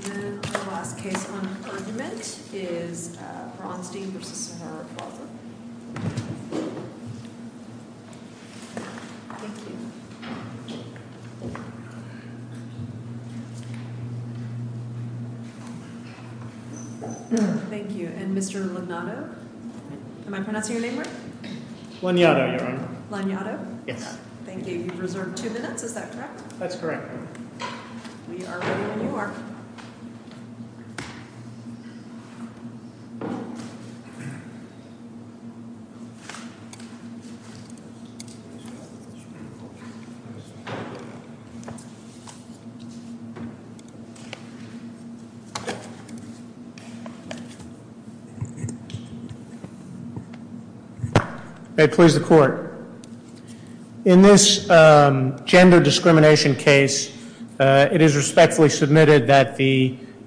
The last case on argument is Braunstein v. Sahara Plaza Braunstein v. Sahara Plaza, LLC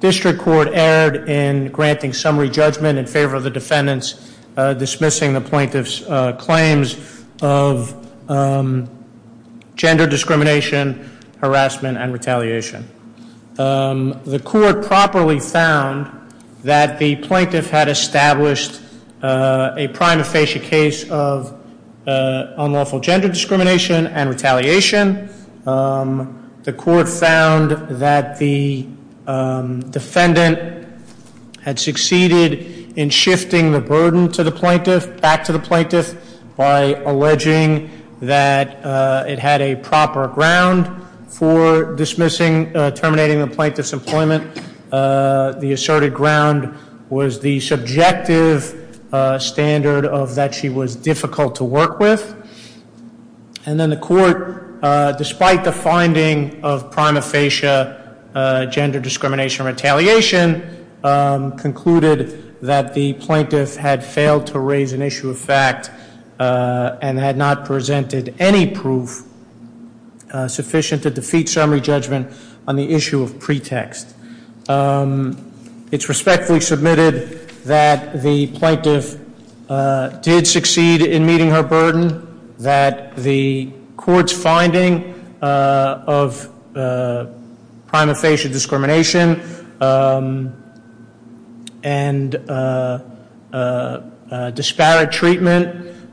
The District Court erred in granting summary judgment in favor of the defendants dismissing the plaintiff's claims of gender discrimination, harassment, and retaliation. The court properly found that the plaintiff had established a prime aphasia case of unlawful gender discrimination and retaliation. The court found that the defendant had succeeded in shifting the burden to the plaintiff, back to the plaintiff, by alleging that it had a proper ground for dismissing, terminating the plaintiff's employment. The asserted ground was the subjective standard of that she was difficult to work with. And then the court, despite the finding of prime aphasia gender discrimination and retaliation, concluded that the plaintiff had failed to raise an issue of fact and had not presented any proof sufficient to defeat summary judgment on the issue of pretext. It's respectfully submitted that the plaintiff did succeed in meeting her burden, that the court's finding of prime aphasia discrimination and disparate treatment,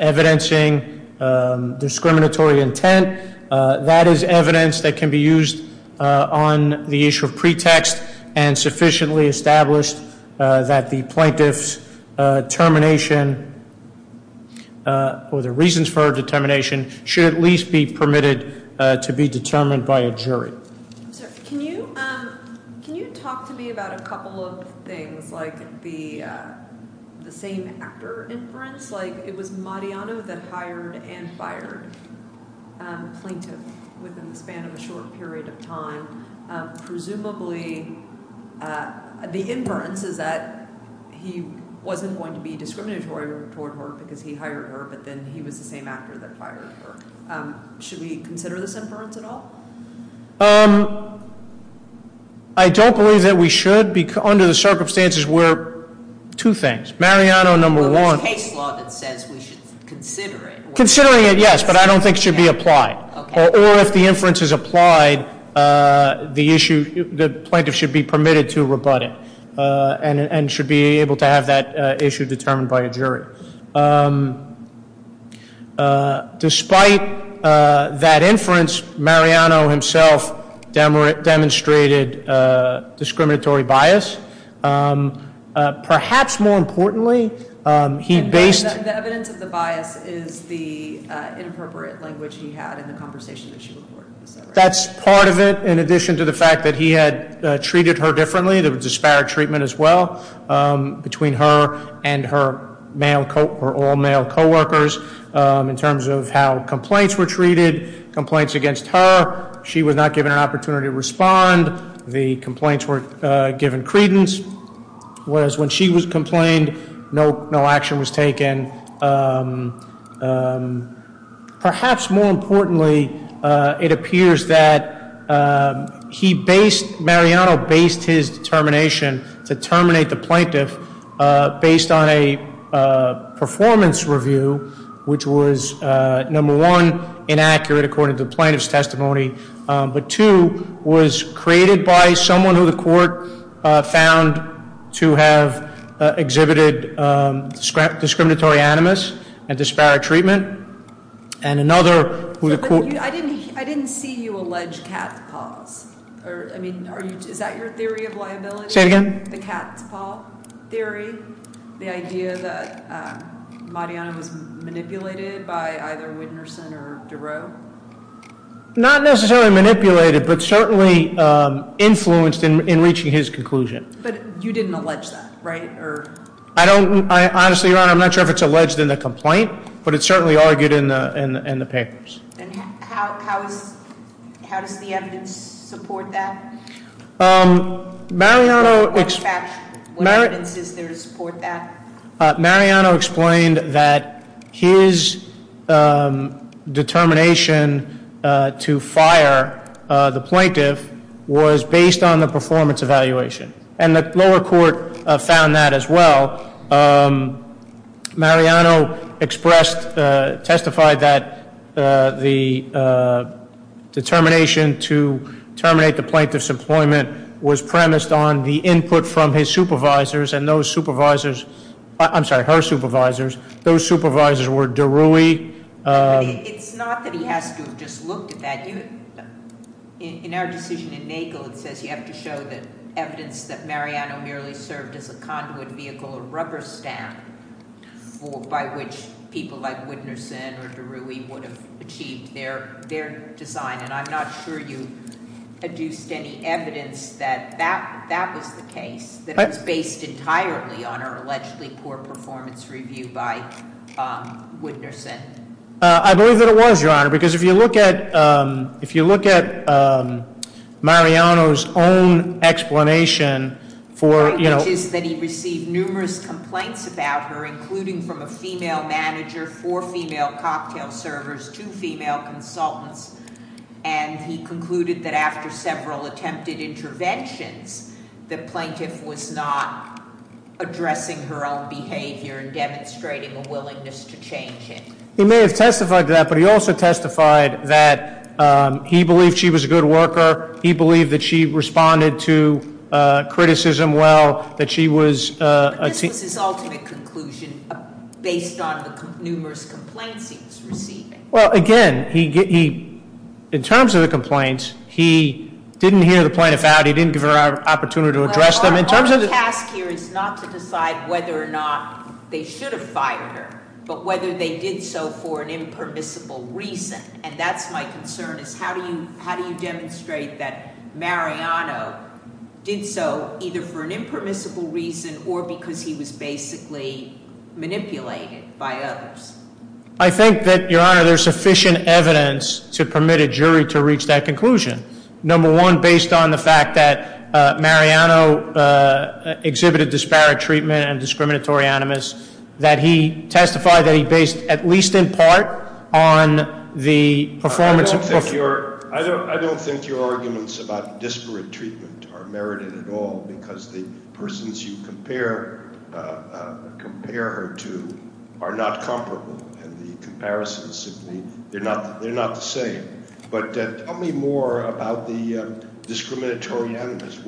evidencing discriminatory intent, that is evidence that can be used on the issue of pretext, and sufficiently established that the plaintiff's termination, or the reasons for her determination, should at least be permitted to be determined by a jury. Can you talk to me about a couple of things, like the same actor inference? Like, it was Mariano that hired and fired the plaintiff within the span of a short period of time. Presumably, the inference is that he wasn't going to be discriminatory toward her because he hired her, but then he was the same actor that fired her. Should we consider this inference at all? I don't believe that we should. Under the circumstances, we're two things. Mariano, number one- Well, there's case law that says we should consider it. Considering it, yes, but I don't think it should be applied. Okay. Or if the inference is applied, the issue, the plaintiff should be permitted to rebut it and should be able to have that issue determined by a jury. Despite that inference, Mariano himself demonstrated discriminatory bias. Perhaps more importantly, he based- The evidence of the bias is the inappropriate language he had in the conversation that she recorded. That's part of it, in addition to the fact that he had treated her differently. There was disparate treatment as well between her and her all-male coworkers in terms of how complaints were treated. Complaints against her, she was not given an opportunity to respond. The complaints were given credence, whereas when she was complained, no action was taken. Perhaps more importantly, it appears that Mariano based his determination to terminate the plaintiff based on a performance review, which was number one, inaccurate according to the plaintiff's testimony, but two, was created by someone who the court found to have exhibited discriminatory animus and disparate treatment, and another- I didn't see you allege cat's paws. I mean, is that your theory of liability? Say it again? The cat's paw theory? The idea that Mariano was manipulated by either Winterson or Duro? Not necessarily manipulated, but certainly influenced in reaching his conclusion. But you didn't allege that, right? Honestly, Your Honor, I'm not sure if it's alleged in the complaint, but it's certainly argued in the papers. And how does the evidence support that? What evidence is there to support that? Mariano explained that his determination to fire the plaintiff was based on the performance evaluation, and the lower court found that as well. Mariano expressed, testified that the determination to terminate the plaintiff's employment was premised on the input from his supervisors. And those supervisors, I'm sorry, her supervisors, those supervisors were Derui. It's not that he has to have just looked at that. In our decision in Nagel, it says you have to show that evidence that Mariano merely served as a conduit vehicle, a rubber stamp by which people like Winterson or Derui would have achieved their design. And I'm not sure you produced any evidence that that was the case, that it was based entirely on her allegedly poor performance review by Winterson. I believe that it was, Your Honor, because if you look at Mariano's own explanation for- The point is that he received numerous complaints about her, including from a female manager, four female cocktail servers, two female consultants. And he concluded that after several attempted interventions, the plaintiff was not addressing her own behavior and demonstrating a willingness to change it. He may have testified to that, but he also testified that he believed she was a good worker. He believed that she responded to criticism well, that she was- But this was his ultimate conclusion based on the numerous complaints he was receiving. Well, again, in terms of the complaints, he didn't hear the plaintiff out. He didn't give her an opportunity to address them. Our task here is not to decide whether or not they should have fired her, but whether they did so for an impermissible reason. And that's my concern, is how do you demonstrate that Mariano did so either for an impermissible reason or because he was basically manipulated by others? I think that, Your Honor, there's sufficient evidence to permit a jury to reach that conclusion. Number one, based on the fact that Mariano exhibited disparate treatment and discriminatory animus, that he testified that he based at least in part on the performance of- I don't think your arguments about disparate treatment are merited at all, because the persons you compare her to are not comparable, and the comparisons simply- they're not the same. But tell me more about the discriminatory animus.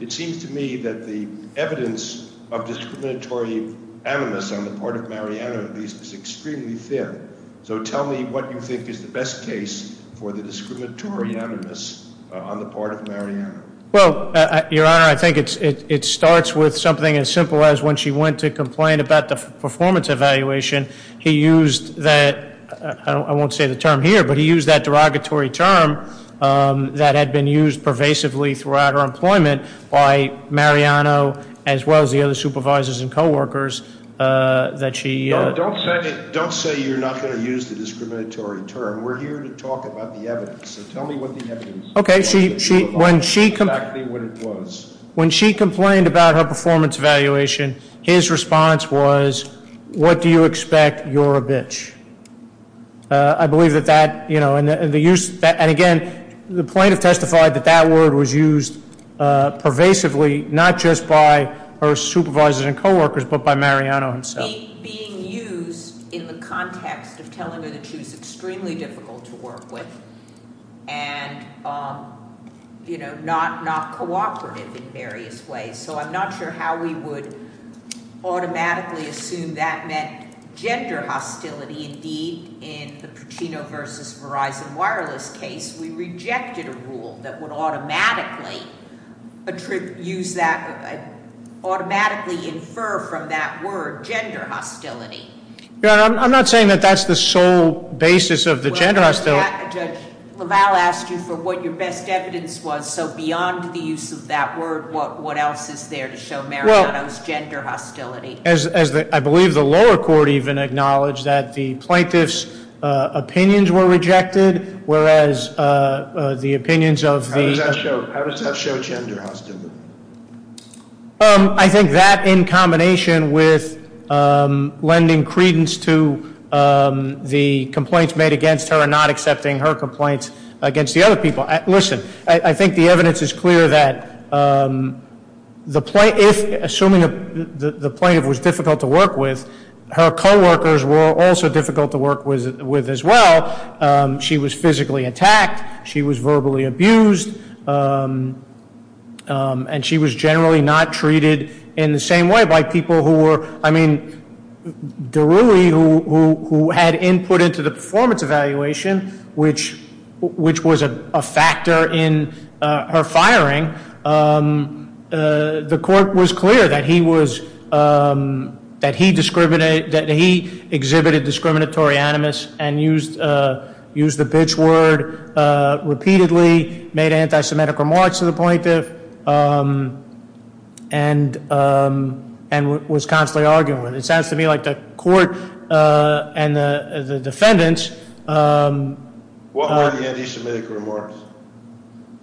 It seems to me that the evidence of discriminatory animus on the part of Mariano, at least, is extremely thin. So tell me what you think is the best case for the discriminatory animus on the part of Mariano. Well, Your Honor, I think it starts with something as simple as when she went to complain about the performance evaluation, he used that-I won't say the term here, but he used that derogatory term that had been used pervasively throughout her employment by Mariano as well as the other supervisors and coworkers that she- Don't say you're not going to use the discriminatory term. We're here to talk about the evidence. So tell me what the evidence- Okay, when she complained about her performance evaluation, his response was, what do you expect? You're a bitch. I believe that that-and again, the plaintiff testified that that word was used pervasively, not just by her supervisors and coworkers, but by Mariano himself. It was being used in the context of telling her that she was extremely difficult to work with and, you know, not cooperative in various ways. So I'm not sure how we would automatically assume that meant gender hostility. Indeed, in the Puccino versus Verizon Wireless case, we rejected a rule that would automatically use that-automatically infer from that word gender hostility. Your Honor, I'm not saying that that's the sole basis of the gender hostility. Judge LaValle asked you for what your best evidence was. So beyond the use of that word, what else is there to show Mariano's gender hostility? I believe the lower court even acknowledged that the plaintiff's opinions were rejected, whereas the opinions of the- How does that show gender hostility? I think that in combination with lending credence to the complaints made against her and not accepting her complaints against the other people. Listen, I think the evidence is clear that the plaintiff-assuming the plaintiff was difficult to work with, her coworkers were also difficult to work with as well. She was physically attacked. She was verbally abused. And she was generally not treated in the same way by people who were-I mean, Daruli, who had input into the performance evaluation, which was a factor in her firing, the court was clear that he exhibited discriminatory animus and used the bitch word repeatedly, made anti-Semitic remarks to the plaintiff, and was constantly arguing with her. It sounds to me like the court and the defendants- What were the anti-Semitic remarks?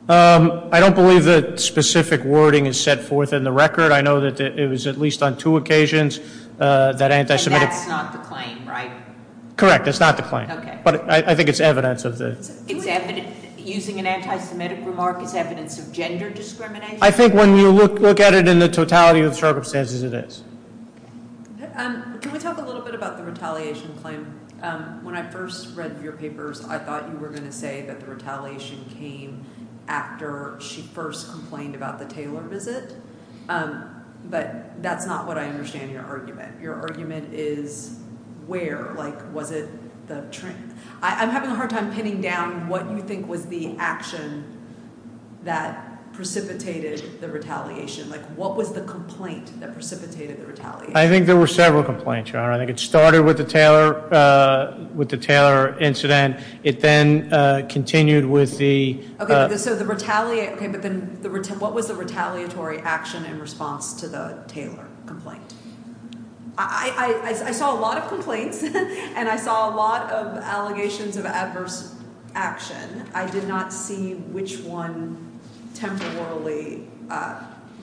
I don't believe that specific wording is set forth in the record. I know that it was at least on two occasions that anti-Semitic- And that's not the claim, right? Correct, that's not the claim. Okay. But I think it's evidence of the- It's evidence-using an anti-Semitic remark is evidence of gender discrimination? I think when you look at it in the totality of the circumstances, it is. Can we talk a little bit about the retaliation claim? When I first read your papers, I thought you were going to say that the retaliation came after she first complained about the Taylor visit, but that's not what I understand your argument. Your argument is where? Like, was it the-I'm having a hard time pinning down what you think was the action that precipitated the retaliation. Like, what was the complaint that precipitated the retaliation? I think there were several complaints, Your Honor. I think it started with the Taylor incident. It then continued with the- Okay, so the retaliation- Okay, but then what was the retaliatory action in response to the Taylor complaint? I saw a lot of complaints, and I saw a lot of allegations of adverse action. I did not see which one temporarily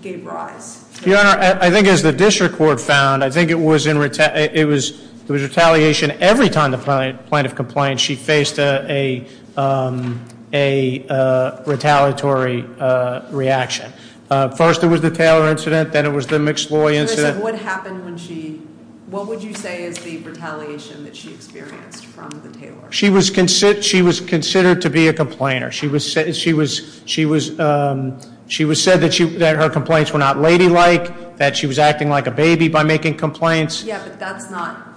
gave rise. Your Honor, I think as the district court found, I think it was retaliation every time the plaintiff complained. She faced a retaliatory reaction. First, it was the Taylor incident. Then it was the McSloy incident. What happened when she-what would you say is the retaliation that she experienced from the Taylor? She was considered to be a complainer. She was said that her complaints were not ladylike, that she was acting like a baby by making complaints. Yeah, but that's not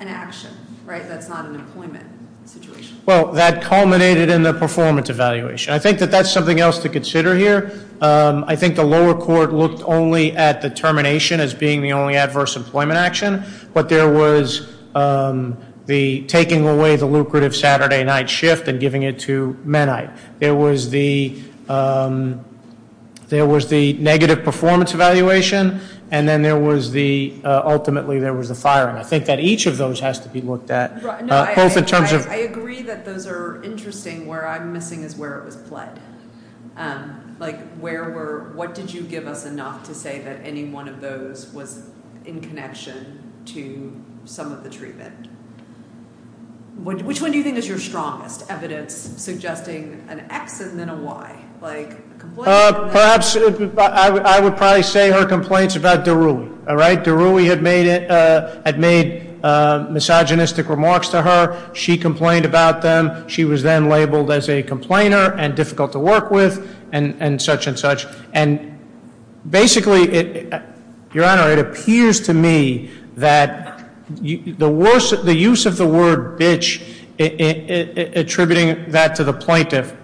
an action, right? That's not an employment situation. Well, that culminated in the performance evaluation. I think that that's something else to consider here. I think the lower court looked only at the termination as being the only adverse employment action. But there was the taking away the lucrative Saturday night shift and giving it to Mennite. There was the negative performance evaluation, and then there was the-ultimately there was the firing. I think that each of those has to be looked at, both in terms of- I agree that those are interesting. Where I'm missing is where it was pled. Like where were-what did you give us enough to say that any one of those was in connection to some of the treatment? Which one do you think is your strongest evidence suggesting an X and then a Y? Like- Perhaps, I would probably say her complaints about Daruli, all right? Daruli had made misogynistic remarks to her. She complained about them. She was then labeled as a complainer and difficult to work with and such and such. And basically, Your Honor, it appears to me that the use of the word bitch attributing that to the plaintiff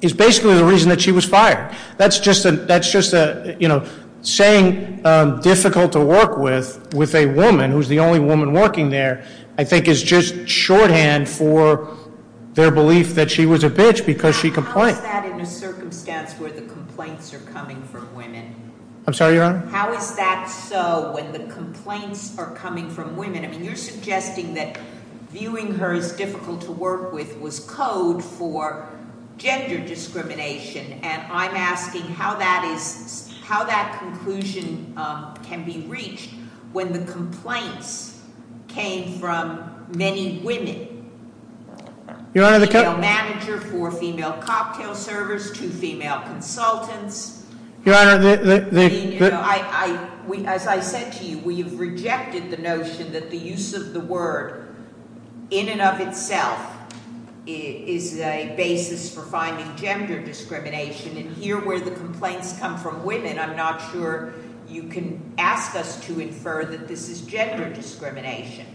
is basically the reason that she was fired. That's just a, you know, saying difficult to work with, with a woman who's the only woman working there, I think is just shorthand for their belief that she was a bitch because she complained. How is that in a circumstance where the complaints are coming from women? I'm sorry, Your Honor? How is that so when the complaints are coming from women? I mean, you're suggesting that viewing her as difficult to work with was code for gender discrimination. And I'm asking how that is, how that conclusion can be reached when the complaints came from many women. Your Honor, the- A female manager for a female cocktail service, two female consultants. Your Honor, the- As I said to you, we have rejected the notion that the use of the word in and of itself is a basis for finding gender discrimination. And here where the complaints come from women, I'm not sure you can ask us to infer that this is gender discrimination.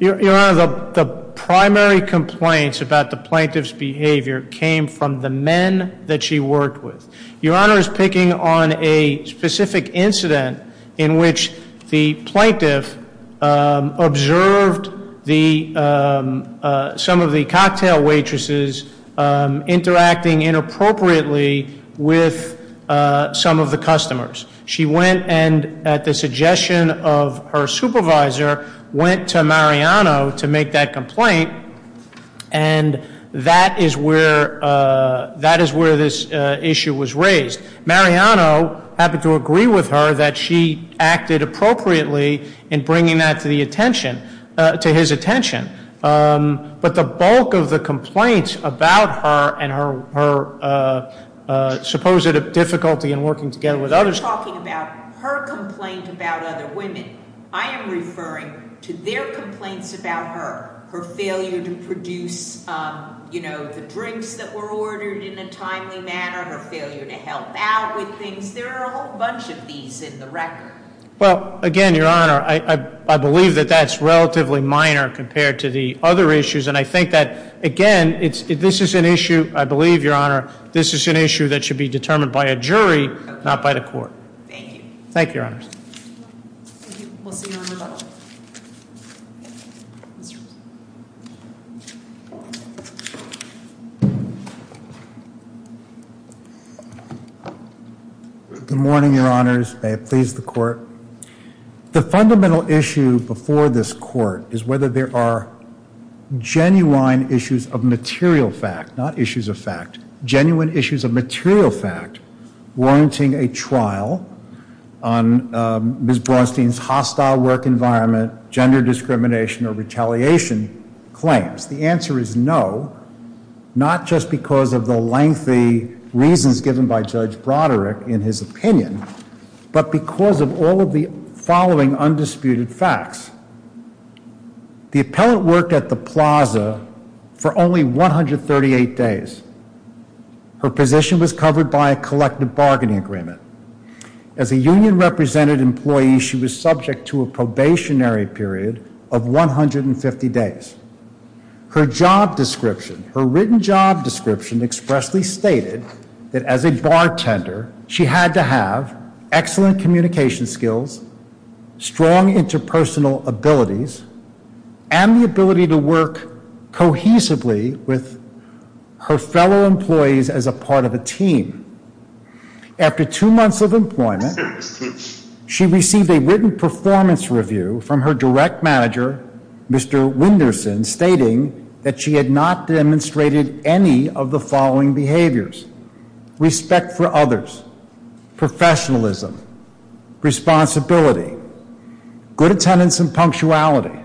Your Honor, the primary complaints about the plaintiff's behavior came from the men that she worked with. Your Honor is picking on a specific incident in which the plaintiff observed some of the cocktail waitresses interacting inappropriately with some of the customers. She went and, at the suggestion of her supervisor, went to Mariano to make that complaint. And that is where this issue was raised. Mariano happened to agree with her that she acted appropriately in bringing that to the attention, to his attention. But the bulk of the complaints about her and her supposed difficulty in working together with others- You're talking about her complaint about other women. I am referring to their complaints about her, her failure to produce the drinks that were ordered in a timely manner, her failure to help out with things. There are a whole bunch of these in the record. Well, again, Your Honor, I believe that that's relatively minor compared to the other issues. And I think that, again, this is an issue- I believe, Your Honor, this is an issue that should be determined by a jury, not by the court. Thank you. Thank you, Your Honor. Thank you. We'll see you in a little while. Good morning, Your Honors. May it please the Court. The fundamental issue before this Court is whether there are genuine issues of material fact, not issues of fact. Genuine issues of material fact warranting a trial on Ms. Braunstein's hostile work environment, gender discrimination, or retaliation claims. The answer is no, not just because of the lengthy reasons given by Judge Broderick in his opinion, but because of all of the following undisputed facts. The appellant worked at the plaza for only 138 days. Her position was covered by a collective bargaining agreement. As a union-represented employee, she was subject to a probationary period of 150 days. Her job description, her written job description expressly stated that as a bartender, she had to have excellent communication skills, strong interpersonal abilities, and the ability to work cohesively with her fellow employees as a part of a team. After two months of employment, she received a written performance review from her direct manager, Mr. Winderson, stating that she had not demonstrated any of the following behaviors. Respect for others, professionalism, responsibility, good attendance and punctuality,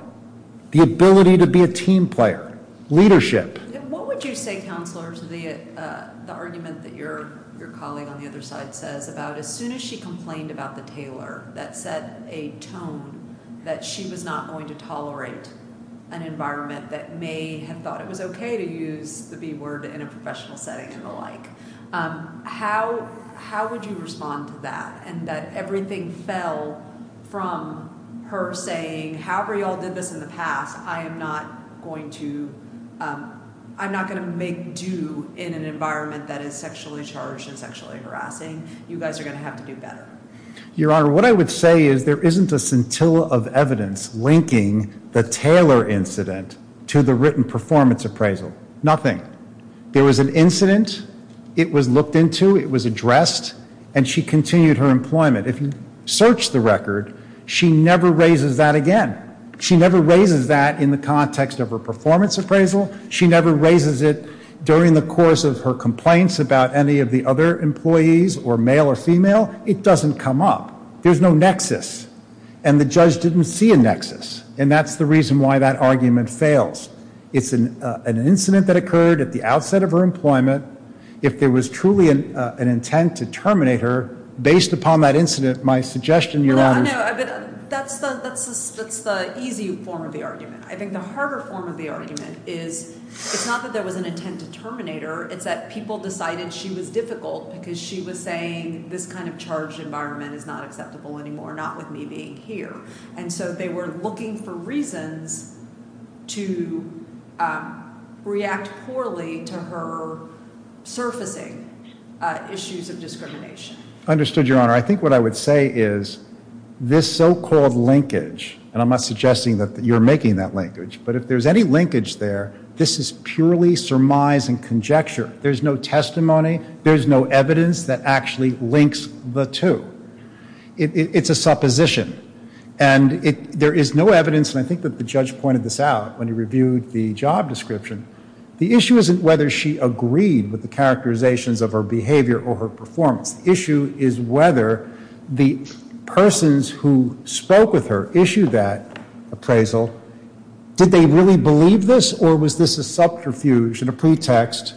the ability to be a team player, leadership. What would you say, Counselors, the argument that your colleague on the other side says about as soon as she complained about the tailor that set a tone that she was not going to tolerate an environment that may have thought it was okay to use the B word in a professional setting and the like. How would you respond to that and that everything fell from her saying, however you all did this in the past, I am not going to make do in an environment that is sexually charged and sexually harassing. You guys are going to have to do better. Your Honor, what I would say is there isn't a scintilla of evidence linking the tailor incident to the written performance appraisal. Nothing. There was an incident. It was looked into. It was addressed. And she continued her employment. If you search the record, she never raises that again. She never raises that in the context of her performance appraisal. She never raises it during the course of her complaints about any of the other employees or male or female. It doesn't come up. There's no nexus. And the judge didn't see a nexus. And that's the reason why that argument fails. It's an incident that occurred at the outset of her employment. If there was truly an intent to terminate her, based upon that incident, my suggestion, Your Honor. No, no. That's the easy form of the argument. I think the harder form of the argument is it's not that there was an intent to terminate her. It's that people decided she was difficult because she was saying this kind of charged environment is not acceptable anymore, not with me being here. And so they were looking for reasons to react poorly to her surfacing issues of discrimination. Understood, Your Honor. I think what I would say is this so-called linkage, and I'm not suggesting that you're making that linkage, but if there's any linkage there, this is purely surmise and conjecture. There's no testimony. There's no evidence that actually links the two. It's a supposition. And there is no evidence, and I think that the judge pointed this out when he reviewed the job description. The issue isn't whether she agreed with the characterizations of her behavior or her performance. The issue is whether the persons who spoke with her issued that appraisal. Did they really believe this, or was this a subterfuge and a pretext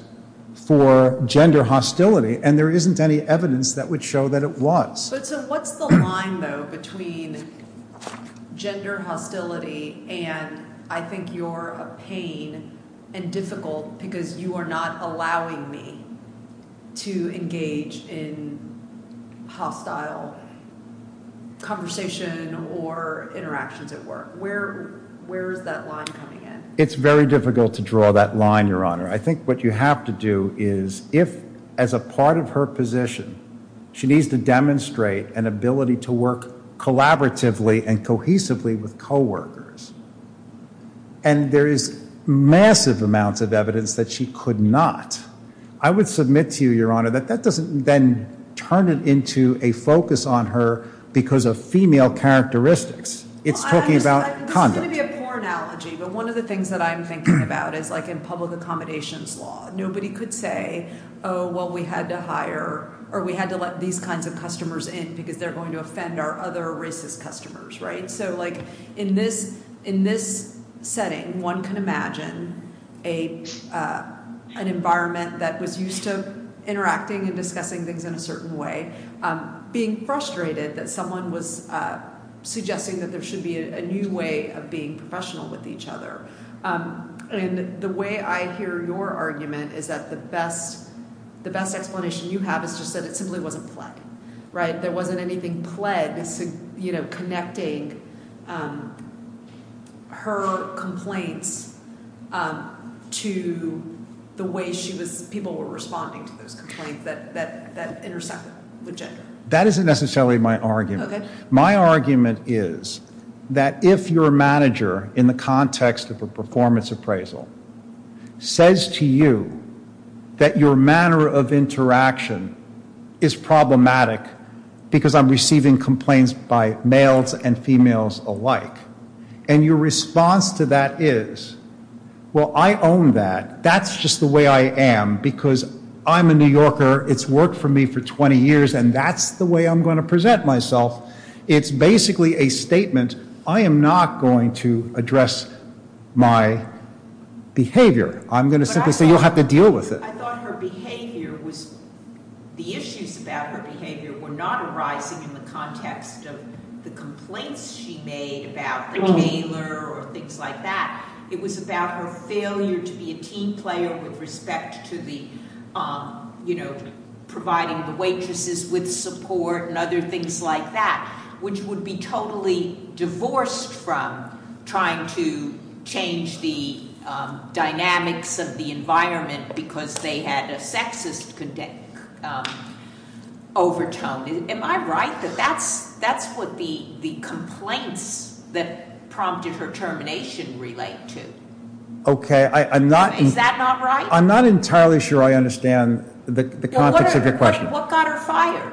for gender hostility? And there isn't any evidence that would show that it was. But so what's the line, though, between gender hostility and I think you're a pain and difficult because you are not allowing me to engage in hostile conversation or interactions at work? Where is that line coming in? It's very difficult to draw that line, Your Honor. I think what you have to do is if, as a part of her position, she needs to demonstrate an ability to work collaboratively and cohesively with coworkers, and there is massive amounts of evidence that she could not, I would submit to you, Your Honor, that that doesn't then turn it into a focus on her because of female characteristics. It's talking about conduct. It's going to be a poor analogy, but one of the things that I'm thinking about is like in public accommodations law, nobody could say, oh, well, we had to hire or we had to let these kinds of customers in because they're going to offend our other racist customers, right? So like in this setting, one can imagine an environment that was used to interacting and discussing things in a certain way, being frustrated that someone was suggesting that there should be a new way of being professional with each other. And the way I hear your argument is that the best explanation you have is just that it simply wasn't play, right? There wasn't anything played, you know, connecting her complaints to the way people were responding to those complaints that intersected with gender. That isn't necessarily my argument. My argument is that if your manager, in the context of a performance appraisal, says to you that your manner of interaction is problematic because I'm receiving complaints by males and females alike, and your response to that is, well, I own that. That's just the way I am because I'm a New Yorker. It's worked for me for 20 years, and that's the way I'm going to present myself. It's basically a statement. I am not going to address my behavior. I'm going to simply say you'll have to deal with it. I thought her behavior was, the issues about her behavior were not arising in the context of the complaints she made about the tailor or things like that. It was about her failure to be a team player with respect to the, you know, providing the waitresses with support and other things like that, which would be totally divorced from trying to change the dynamics of the environment because they had a sexist overtone. Am I right that that's what the complaints that prompted her termination relate to? Okay, I'm not- Is that not right? I'm not entirely sure I understand the context of your question. What got her fired?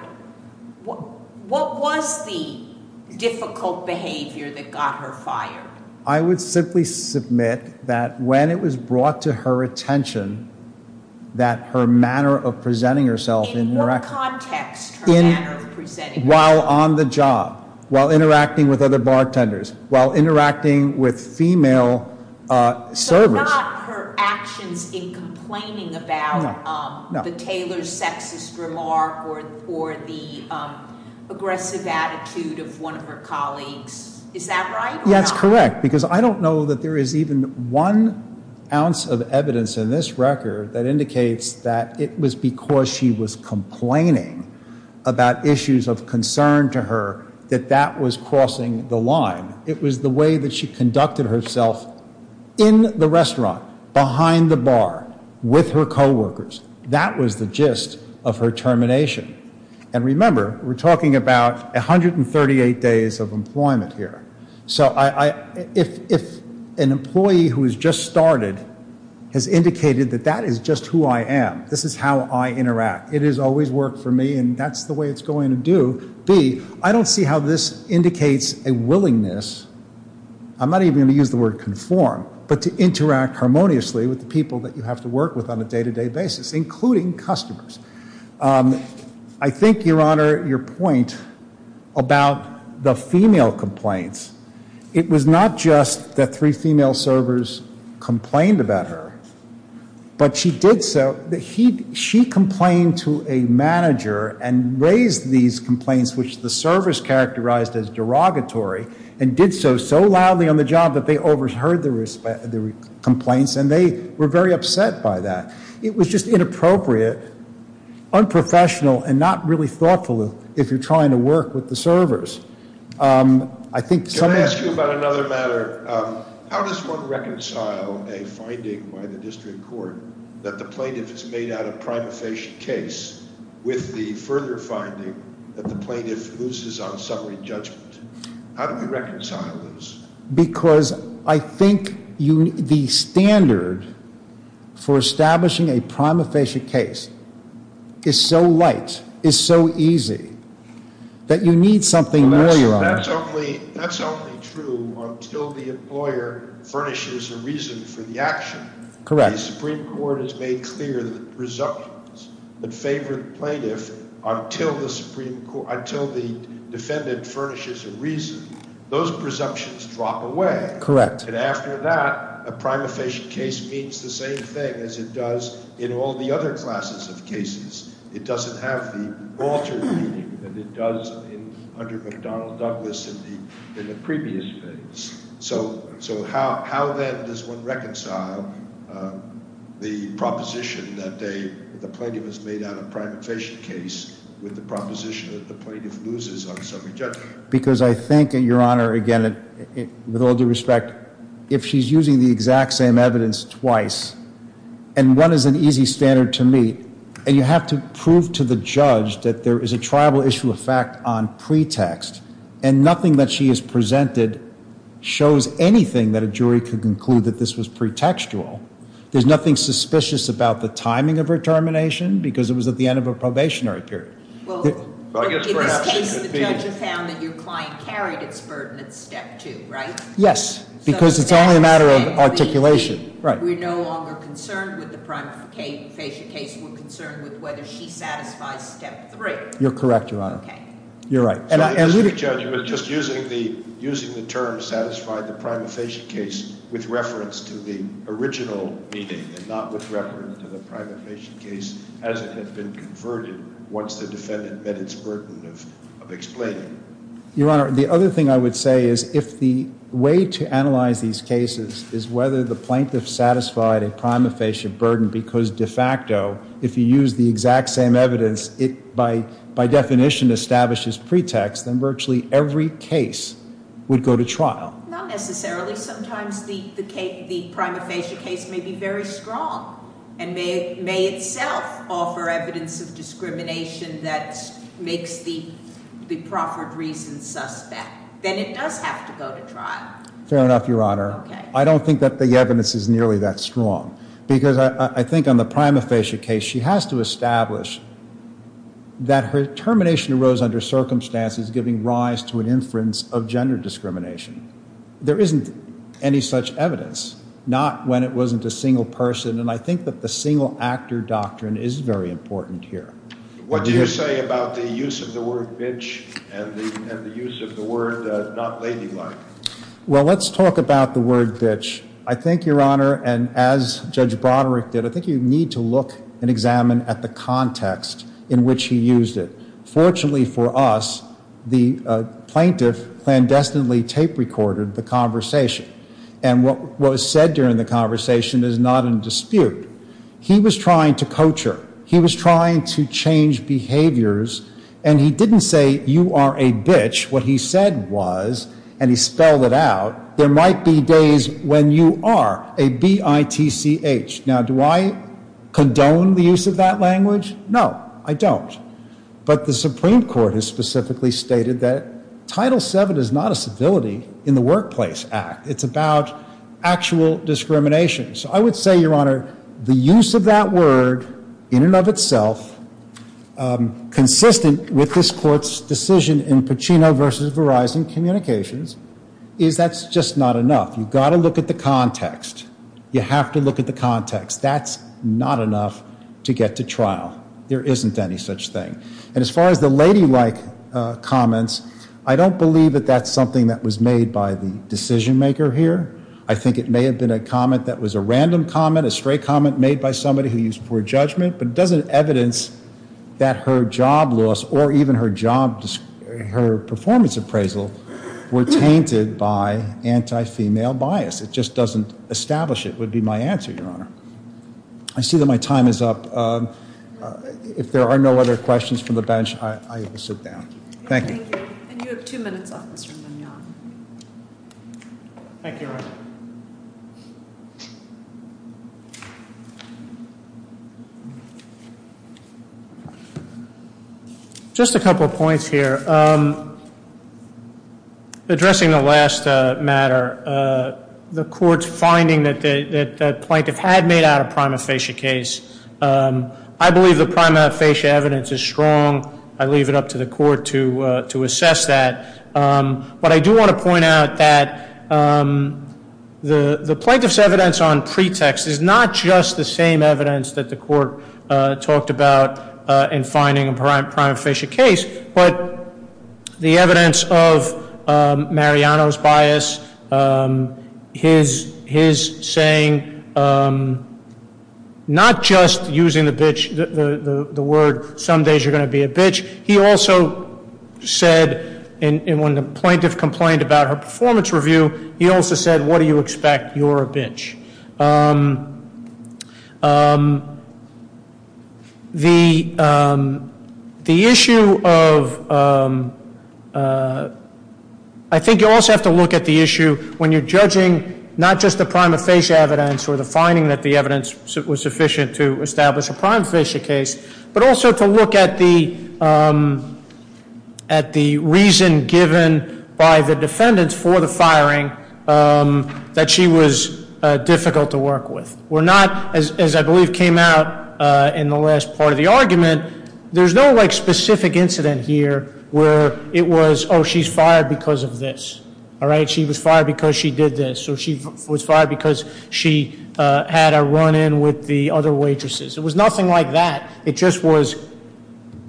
What was the difficult behavior that got her fired? I would simply submit that when it was brought to her attention that her manner of presenting herself- In what context her manner of presenting herself- While on the job, while interacting with other bartenders, while interacting with female servers- or the aggressive attitude of one of her colleagues. Is that right? That's correct because I don't know that there is even one ounce of evidence in this record that indicates that it was because she was complaining about issues of concern to her that that was crossing the line. It was the way that she conducted herself in the restaurant, behind the bar, with her co-workers. That was the gist of her termination. And remember, we're talking about 138 days of employment here. So if an employee who has just started has indicated that that is just who I am. This is how I interact. It has always worked for me and that's the way it's going to do. B, I don't see how this indicates a willingness- I think, Your Honor, your point about the female complaints- It was not just that three female servers complained about her, but she did so- She complained to a manager and raised these complaints, which the servers characterized as derogatory, and did so so loudly on the job that they overheard the complaints and they were very upset by that. It was just inappropriate, unprofessional, and not really thoughtful if you're trying to work with the servers. Can I ask you about another matter? How does one reconcile a finding by the district court that the plaintiff has made out a prima facie case with the further finding that the plaintiff loses on summary judgment? How do we reconcile those? Because I think the standard for establishing a prima facie case is so light, is so easy, that you need something more, Your Honor. That's only true until the employer furnishes a reason for the action. Correct. Correct. Because I think, Your Honor, again, with all due respect, if she's using the exact same evidence twice, and one is an easy standard to meet, and you have to prove to the judge that there is a triable issue of fact on pretext, and nothing that she has presented shows anything that a jury could conclude that this was pretextual, there's nothing suspicious about the timing of her termination because it was at the end of a probationary period. In this case, the judge found that your client carried its burden at step two, right? Yes, because it's only a matter of articulation. We're no longer concerned with the prima facie case. We're concerned with whether she satisfies step three. You're correct, Your Honor. Okay. Your Honor, the other thing I would say is if the way to analyze these cases is whether the plaintiff satisfied a prima facie burden because de facto, if you use the exact same evidence, it by definition establishes pretext, then virtually every case would go to trial. Not necessarily. Sometimes the prima facie case may be very strong and may itself offer evidence of discrimination that makes the proffered reason suspect. Then it does have to go to trial. Fair enough, Your Honor. Okay. I don't think that the evidence is nearly that strong because I think on the prima facie case, she has to establish that her termination arose under circumstances giving rise to an inference of gender discrimination. There isn't any such evidence, not when it wasn't a single person, and I think that the single actor doctrine is very important here. What do you say about the use of the word bitch and the use of the word not ladylike? Well, let's talk about the word bitch. I think, Your Honor, and as Judge Broderick did, I think you need to look and examine at the context in which he used it. Fortunately for us, the plaintiff clandestinely tape recorded the conversation, and what was said during the conversation is not in dispute. He was trying to coach her. He was trying to change behaviors, and he didn't say, you are a bitch. What he said was, and he spelled it out, there might be days when you are a B-I-T-C-H. Now, do I condone the use of that language? No, I don't. But the Supreme Court has specifically stated that Title VII is not a civility in the workplace act. It's about actual discrimination. So I would say, Your Honor, the use of that word in and of itself, consistent with this court's decision in Pacino v. Verizon Communications, is that's just not enough. You've got to look at the context. You have to look at the context. That's not enough to get to trial. There isn't any such thing. And as far as the ladylike comments, I don't believe that that's something that was made by the decision maker here. I think it may have been a comment that was a random comment, a stray comment made by somebody who used poor judgment. But it doesn't evidence that her job loss or even her performance appraisal were tainted by anti-female bias. It just doesn't establish it would be my answer, Your Honor. I see that my time is up. If there are no other questions from the bench, I will sit down. Thank you. Thank you. And you have two minutes, Officer Mignogna. Thank you, Your Honor. Just a couple of points here. Addressing the last matter, the court's finding that the plaintiff had made out a prima facie case. I believe the prima facie evidence is strong. I leave it up to the court to assess that. But I do want to point out that the plaintiff's evidence on pretext is not just the same evidence that the court talked about in finding a prima facie case. But the evidence of Mariano's bias, his saying, not just using the word, some days you're going to be a bitch. He also said, when the plaintiff complained about her performance review, he also said, what do you expect? You're a bitch. The issue of, I think you also have to look at the issue when you're judging not just the prima facie evidence or the finding that the evidence was sufficient to establish a prima facie case. But also to look at the reason given by the defendants for the firing that she was difficult to work with. We're not, as I believe came out in the last part of the argument, there's no specific incident here where it was, she's fired because of this. All right, she was fired because she did this, or she was fired because she had a run in with the other waitresses. It was nothing like that. It just was,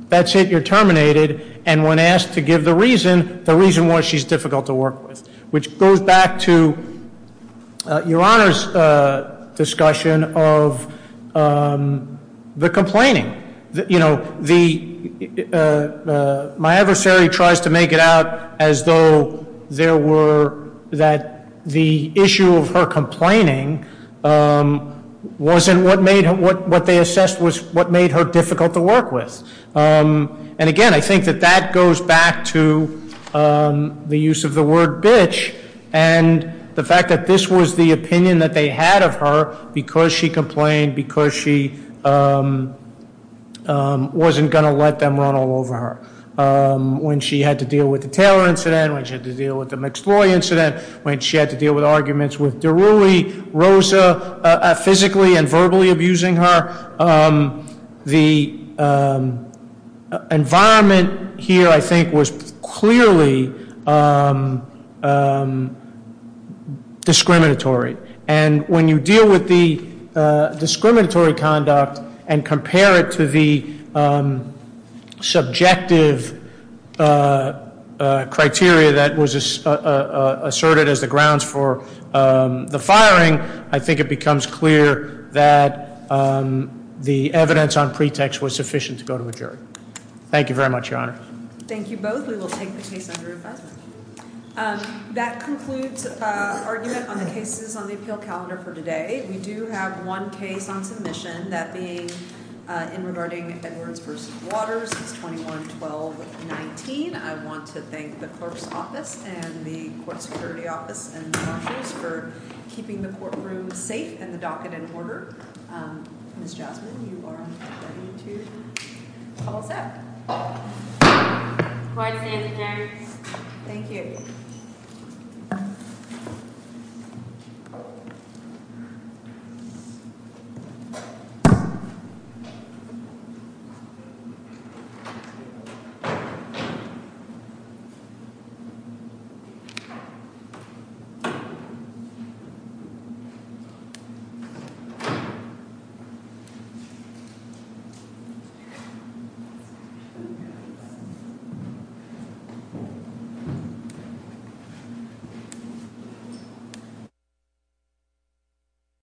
that's it, you're terminated. And when asked to give the reason, the reason was she's difficult to work with. Which goes back to your Honor's discussion of the complaining. My adversary tries to make it out as though there were, that the issue of her complaining wasn't what made, what they assessed was what made her difficult to work with. And again, I think that that goes back to the use of the word bitch. And the fact that this was the opinion that they had of her because she complained, because she wasn't going to let them run all over her. When she had to deal with the Taylor incident, when she had to deal with the McSloy incident, when she had to deal with arguments with Deruli, Rosa, physically and verbally abusing her. The environment here, I think, was clearly discriminatory, and when you deal with the discriminatory conduct and compare it to the subjective criteria that was asserted as the grounds for the firing. I think it becomes clear that the evidence on pretext was sufficient to go to a jury. Thank you very much, Your Honor. Thank you both. We will take the case under advisement. That concludes argument on the cases on the appeal calendar for today. We do have one case on submission. That being in regarding Edwards versus Waters, it's 21-12-19. I want to thank the clerk's office and the court security office and marshals for keeping the courtroom safe and the docket in order. Ms. Jasmine, you are ready to call us out. Quiet, stand adjourned. Thank you.